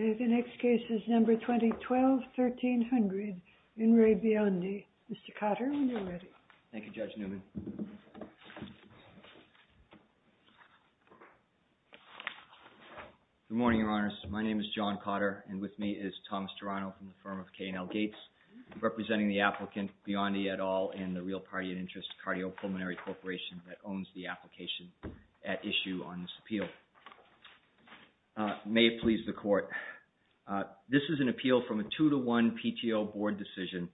Mr. Cotter, when you're ready. Thank you, Judge Neumann. Good morning, Your Honors. My name is John Cotter, and with me is Thomas Durano from the firm of K&L Gates, representing the applicant, Biondi et al., and the Real Party of Interest Cardiopulmonary Corporation that owns the application at issue on this appeal. May it please the Court, this is an appeal from a two-to-one PTO board decision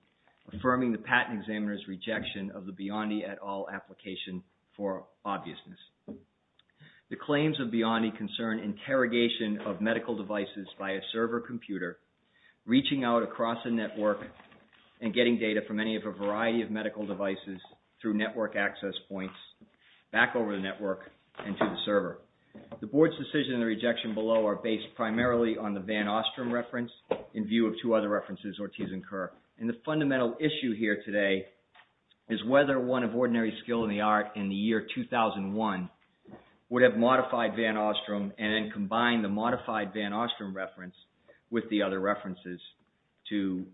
affirming the patent examiner's rejection of the Biondi et al. application for obviousness. The claims of Biondi concern interrogation of medical devices by a server computer, reaching out across a network, and getting data from any of a variety of medical devices through network access points, back over the network, and to the server. The board's decision and the rejection below are based primarily on the Van Ostrom reference in view of two other references, Ortiz and Kerr, and the fundamental issue here today is whether one of ordinary skill in the art in the year 2001 would have modified Van Ostrom and then combined the modified Van Ostrom reference with the other references to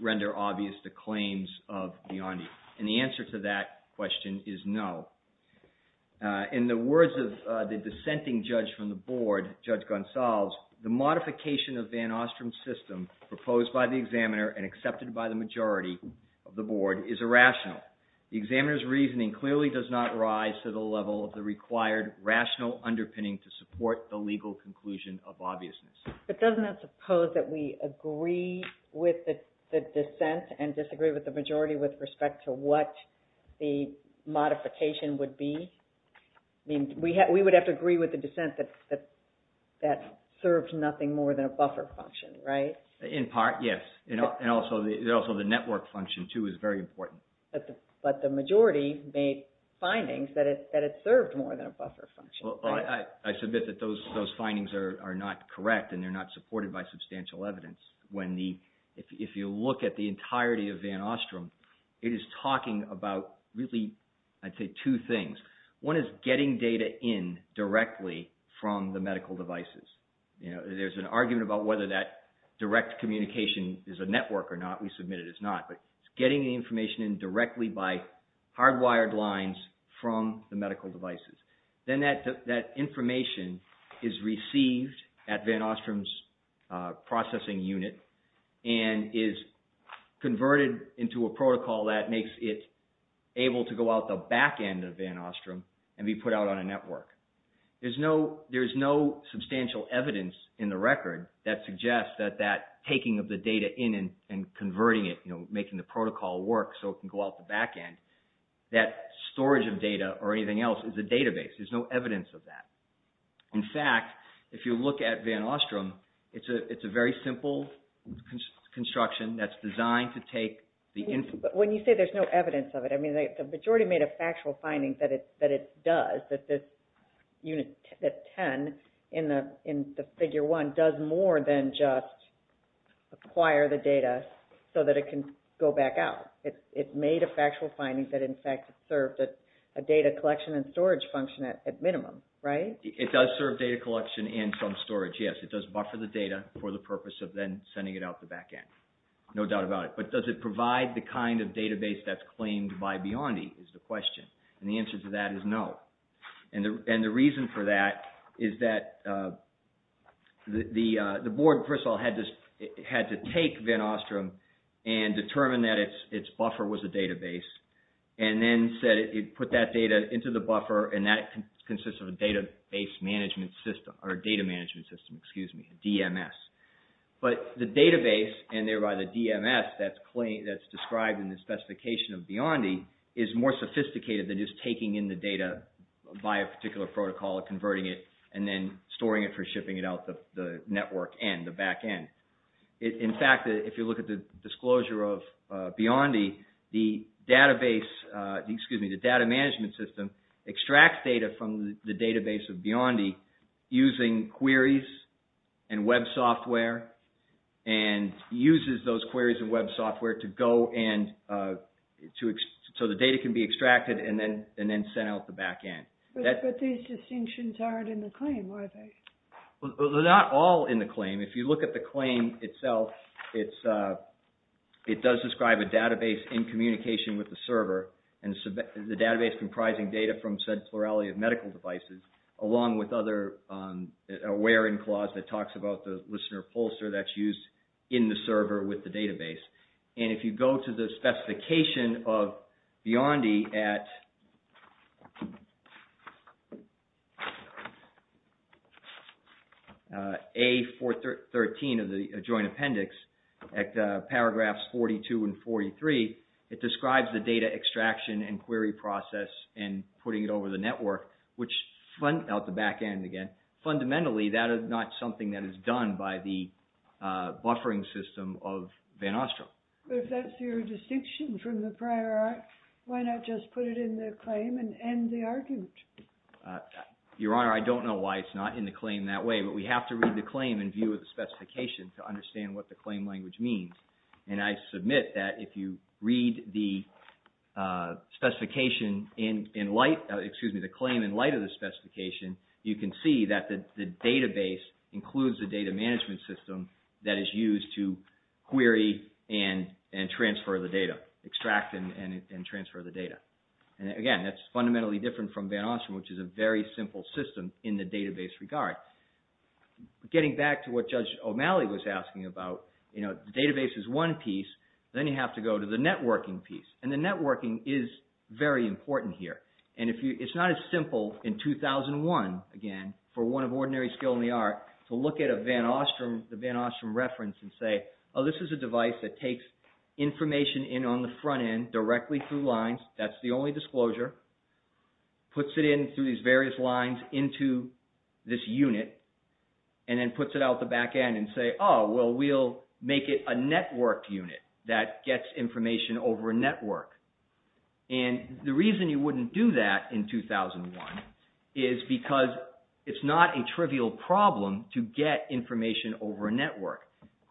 render obvious the claims of Biondi, and the answer to that question is no. In the words of the dissenting judge from the board, Judge Gonsalves, the modification of Van Ostrom's system proposed by the examiner and accepted by the majority of the board is irrational. The examiner's reasoning clearly does not rise to the level of the required rational underpinning to support the legal conclusion of obviousness. But doesn't that suppose that we agree with the dissent and disagree with the majority with respect to what the modification would be? We would have to agree with the dissent that that serves nothing more than a buffer function, right? In part, yes. And also the network function, too, is very important. But the majority made findings that it served more than a buffer function. I submit that those findings are not correct and they're not supported by substantial evidence. If you look at the entirety of Van Ostrom, it is talking about really, I'd say, two things. One is getting data in directly from the medical devices. There's an argument about whether that direct communication is a network or not. We submit it is not. But it's getting the information in directly by hardwired lines from the medical devices. Then that information is received at Van Ostrom's processing unit and is converted into a protocol that makes it able to go out the back end of Van Ostrom and be put out on a network. There's no substantial evidence in the record that suggests that that taking of the data in and converting it, making the protocol work so it can go out the back end, that storage of data or anything else is a database. There's no evidence of that. In fact, if you look at Van Ostrom, it's a very simple construction that's designed to take the... When you say there's no evidence of it, I mean, the majority made a factual finding that it does, that this unit, that 10 in the figure 1, does more than just acquire the data so that it can go back out. It made a factual finding that, in fact, served as a data collection and storage function at minimum. Right? It does serve data collection and some storage, yes. It does buffer the data for the purpose of then sending it out the back end. No doubt about it. But does it provide the kind of database that's claimed by Biondi is the question. And the answer to that is no. And the reason for that is that the board, first of all, had to take Van Ostrom and determine that its buffer was a database and then put that data into the buffer and that consists of a database management system or a data management system, excuse me, a DMS. But the database and thereby the DMS that's described in the specification of Biondi is more sophisticated than just taking in the data by a particular protocol and converting it and then storing it for shipping it out the network end, the back end. In fact, if you look at the disclosure of Biondi, the database, excuse me, the data management system extracts data from the database of Biondi using queries and web software and uses those queries and web software to go and so the data can be extracted and then sent out the back end. But these distinctions aren't in the claim, are they? They're not all in the claim. If you look at the claim itself, it does describe a database in communication with the server and the database comprising data from said plurality of medical devices along with other data. There's a query in clause that talks about the listener pollster that's used in the server with the database. And if you go to the specification of Biondi at A413 of the joint appendix at paragraphs 42 and 43, it describes the data extraction and query process and putting it over the back end again. Fundamentally, that is not something that is done by the buffering system of Van Ostrom. But if that's your distinction from the prior act, why not just put it in the claim and end the argument? Your Honor, I don't know why it's not in the claim that way, but we have to read the claim in view of the specification to understand what the claim language means. And I submit that if you read the specification in light, excuse me, the claim in light of the specification, you can see that the database includes the data management system that is used to query and transfer the data, extract and transfer the data. And again, that's fundamentally different from Van Ostrom, which is a very simple system in the database regard. Getting back to what Judge O'Malley was asking about, the database is one piece, then you have to go to the networking piece, and the networking is very important here. And it's not as simple in 2001, again, for one of ordinary skill in the art, to look at a Van Ostrom, the Van Ostrom reference and say, oh, this is a device that takes information in on the front end directly through lines, that's the only disclosure, puts it in through these various lines into this unit, and then puts it out the back end and say, oh, well, we'll make it a network unit that gets information over a network. And the reason you wouldn't do that in 2001 is because it's not a trivial problem to get information over a network.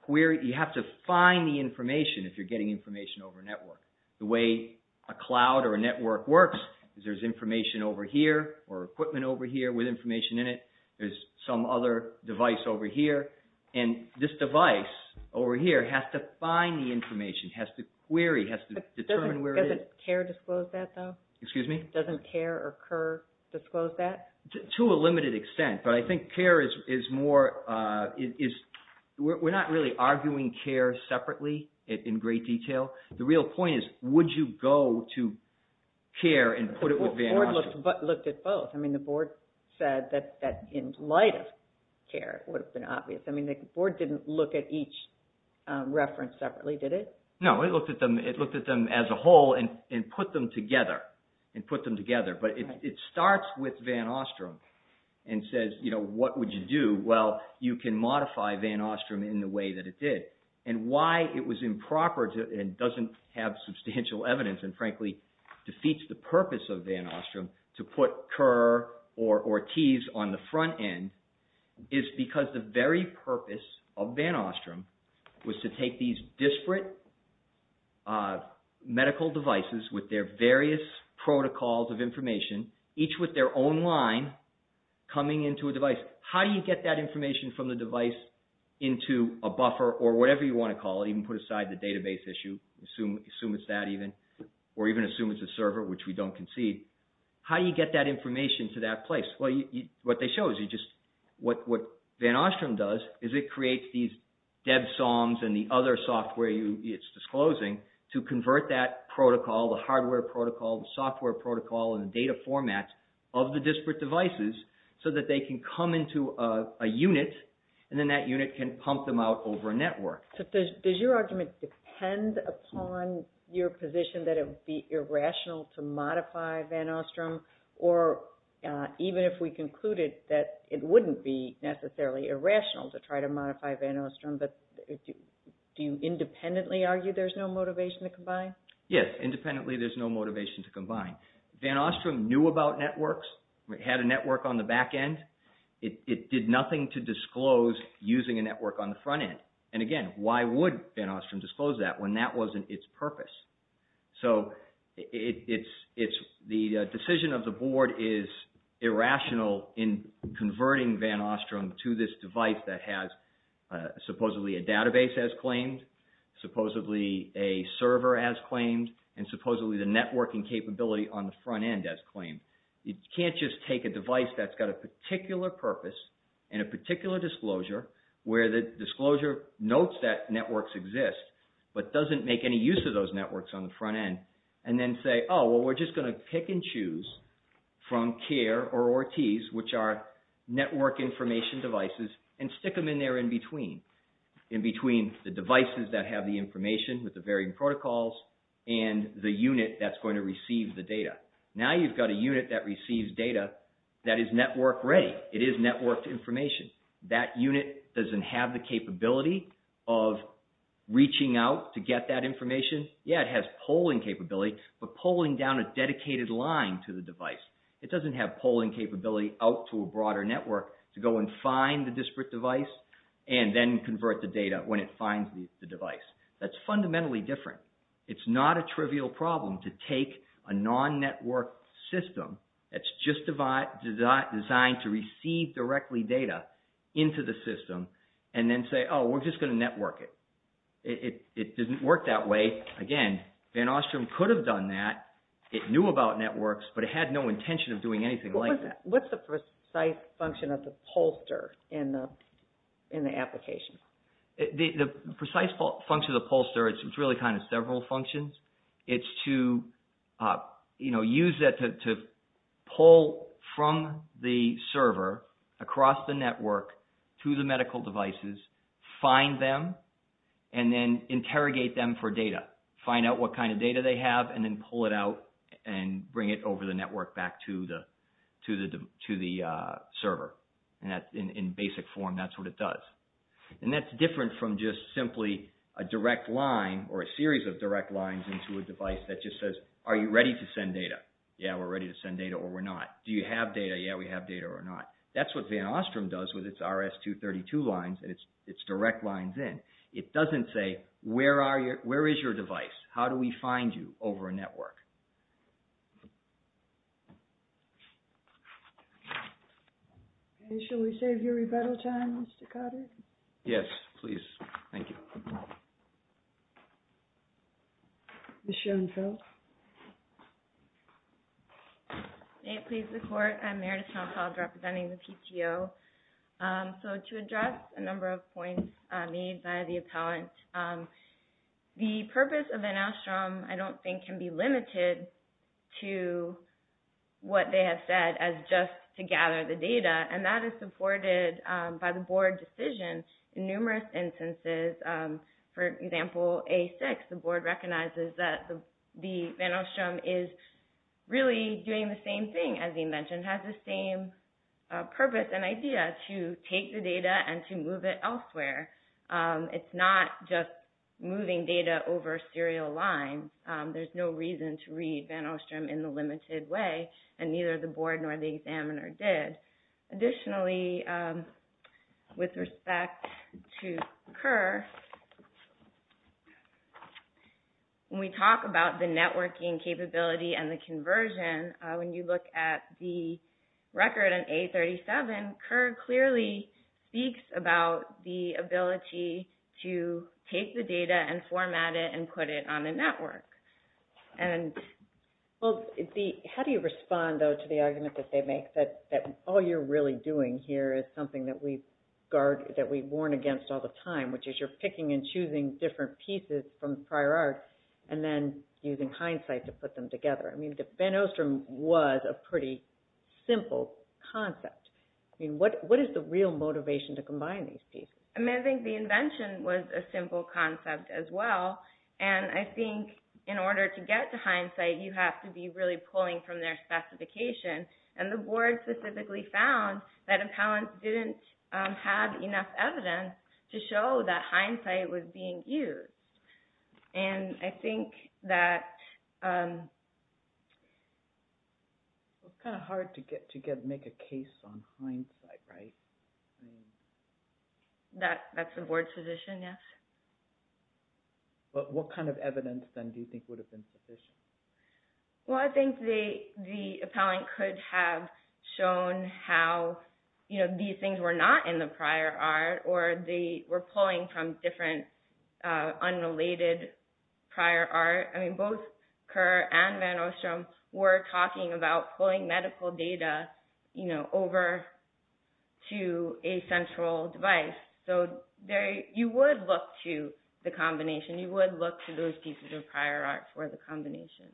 You have to find the information if you're getting information over a network. The way a cloud or a network works is there's information over here, or equipment over here with information in it, there's some other device over here, and this device over here has to find the information, has to query, has to determine where it is. Doesn't CARE disclose that, though? Excuse me? Doesn't CARE or CUR disclose that? To a limited extent, but I think CARE is more, we're not really arguing CARE separately in great detail. The real point is, would you go to CARE and put it with Van Ostrom? The board looked at both. I mean, the board said that in light of CARE, it would have been obvious. I mean, the board didn't look at each reference separately, did it? No, it looked at them as a whole and put them together, and put them together. But it starts with Van Ostrom and says, you know, what would you do? Well, you can modify Van Ostrom in the way that it did. And why it was improper and doesn't have substantial evidence, and frankly, defeats the purpose of Van Ostrom to put CUR or TEAS on the front end, is because the very purpose of Van Ostrom was to take these disparate medical devices with their various protocols of information, each with their own line, coming into a device. How do you get that information from the device into a buffer or whatever you want to call it, even put aside the database issue, assume it's that even, or even assume it's a server, which we don't concede, how do you get that information to that place? What they show is you just, what Van Ostrom does is it creates these DEBSOMs and the other software it's disclosing to convert that protocol, the hardware protocol, the software protocol, and the data format of the disparate devices so that they can come into a unit, and then that unit can pump them out over a network. So does your argument depend upon your position that it would be irrational to modify Van Ostrom, or even if we concluded that it wouldn't be necessarily irrational to try to modify Van Ostrom, but do you independently argue there's no motivation to combine? Yes, independently there's no motivation to combine. Van Ostrom knew about networks, had a network on the back end, it did nothing to disclose using a network on the front end. And again, why would Van Ostrom disclose that when that wasn't its purpose? So the decision of the board is irrational in converting Van Ostrom to this device that has supposedly a database as claimed, supposedly a server as claimed, and supposedly the networking capability on the front end as claimed. You can't just take a device that's got a particular purpose and a particular disclosure where the disclosure notes that networks exist, but doesn't make any use of those networks on the front end, and then say, oh, well, we're just going to pick and choose from CARE or ORTES, which are network information devices, and stick them in there in between, in between the devices that have the information with the protocols and the unit that's going to receive the data. Now you've got a unit that receives data that is network ready. It is networked information. That unit doesn't have the capability of reaching out to get that information. Yeah, it has polling capability, but polling down a dedicated line to the device. It doesn't have polling capability out to a broader network to go and find the disparate device and then convert the data when it finds the device. That's fundamentally different. It's not a trivial problem to take a non-networked system that's just designed to receive directly data into the system and then say, oh, we're just going to network it. It doesn't work that way. Again, Van Ostrom could have done that. It knew about networks, but it had no intention of doing anything like that. What's the precise function of the pollster in the application? The precise function of the pollster, it's really several functions. It's to use that to pull from the server across the network to the medical devices, find them, and then interrogate them for data. Find out what kind of data they have and then pull it out and bring it over the network back to the server. In basic form, that's what it does. And that's different from just simply a direct line or a series of direct lines into a device that just says, are you ready to send data? Yeah, we're ready to send data or we're not. Do you have data? Yeah, we have data or not. That's what Van Ostrom does with its RS-232 lines and its direct lines in. It doesn't say, where is your device? How do we find you over a network? Okay, shall we save your rebuttal time, Mr. Cotter? Yes, please. Thank you. Ms. Schoenfeld? May it please the Court, I'm Meredith Schoenfeld representing the PTO. So to address a number of points made by the appellant, the purpose of Van Ostrom, I don't think can be limited to what they have said as just to gather the data. And that is supported by the board decision in numerous instances. For example, A6, the board recognizes that Van Ostrom is really doing the same thing, as he mentioned, has the same purpose and idea to take the data and to move it elsewhere. It's not just moving data over a serial line. There's no reason to read Van Ostrom in the limited way, and neither the board nor the examiner did. Additionally, with respect to CUR, when we talk about the networking capability and the conversion, when you look at the record in A37, CUR clearly speaks about the ability to take the data and format it and put it on a network. How do you respond, though, to the argument that they make that all you're really doing here is something that we warn against all the time, which is you're picking and choosing different pieces from prior art and then using hindsight to put them together? I mean, Van Ostrom was a pretty simple concept. I mean, what is the real motivation to combine these pieces? I mean, I think the invention was a simple concept as well. And I think in order to get to hindsight, you have to be really pulling from their specification. And the board specifically found that Appellant didn't have enough evidence to show that hindsight was being used. And I think that... It's kind of hard to make a case on hindsight, right? That's the board's position, yes. But what kind of evidence, then, do you think would have been sufficient? Well, I think the Appellant could have shown how these things were not in the prior art, or they were pulling from different unrelated prior art. I mean, both CUR and Van Ostrom were talking about pulling medical data over to a central device. So you would look to the combination. You would look to those pieces of prior art for the combination.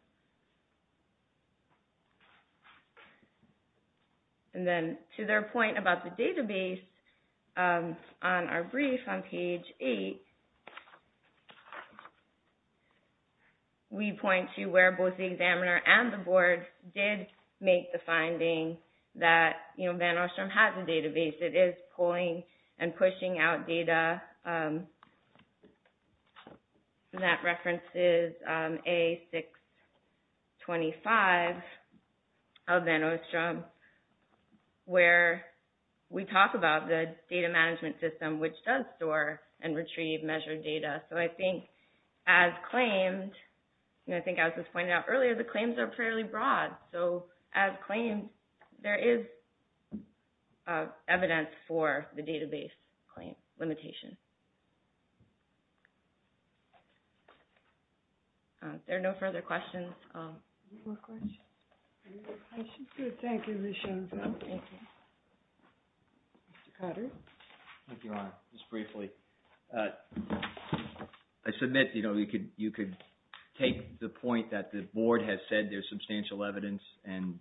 And then to their point about the database, on our brief on page 8, we point to where both the examiner and the board did make the finding that Van Ostrom has a database. It is pulling and pushing out data that references A625 of Van Ostrom, where we talk about the data management system, which does store and retrieve measured data. So I think as claimed, and I think as was pointed out earlier, the claims are fairly broad. So as claimed, there is evidence for the database claim limitation. There are no further questions. Thank you, Ms. Schoenfeld. Thank you. Mr. Cotter. Thank you, Your Honor. Just briefly, I submit you could take the point that the board has said there's substantial evidence, and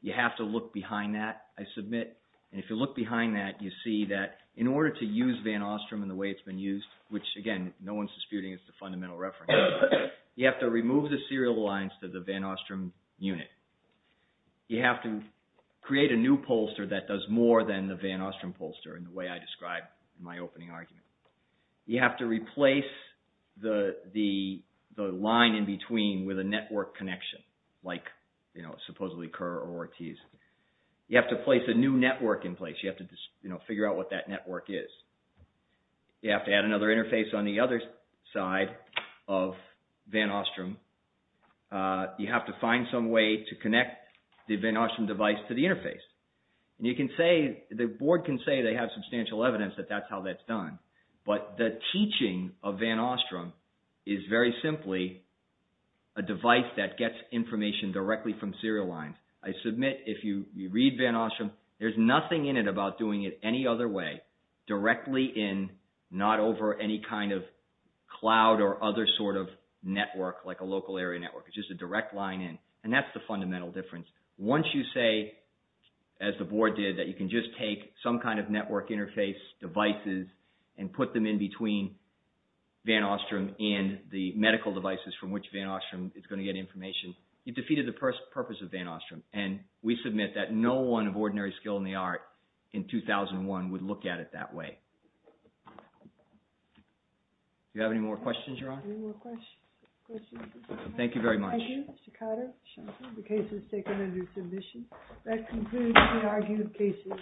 you have to look behind that, I submit. And if you look behind that, you see that in order to use Van Ostrom in the way it's been used, which again, no one's disputing it's the fundamental reference, you have to remove the serial lines to the Van Ostrom unit. You have to create a new pollster that does more than the Van Ostrom pollster in the way I with a network connection, like, you know, supposedly Kerr or Ortiz. You have to place a new network in place. You have to figure out what that network is. You have to add another interface on the other side of Van Ostrom. You have to find some way to connect the Van Ostrom device to the interface. And you can say, the board can say they have substantial evidence that that's how that's But the teaching of Van Ostrom is very simply a device that gets information directly from serial lines. I submit if you read Van Ostrom, there's nothing in it about doing it any other way, directly in, not over any kind of cloud or other sort of network, like a local area network, it's just a direct line in. And that's the fundamental difference. Once you say, as the put them in between Van Ostrom and the medical devices from which Van Ostrom is going to get information, you've defeated the purpose of Van Ostrom. And we submit that no one of ordinary skill in the art in 2001 would look at it that way. You have any more questions, Your Honor? Any more questions? Thank you very much. Thank you, Mr. Cotter. The case is taken under submission. That concludes the argument of cases.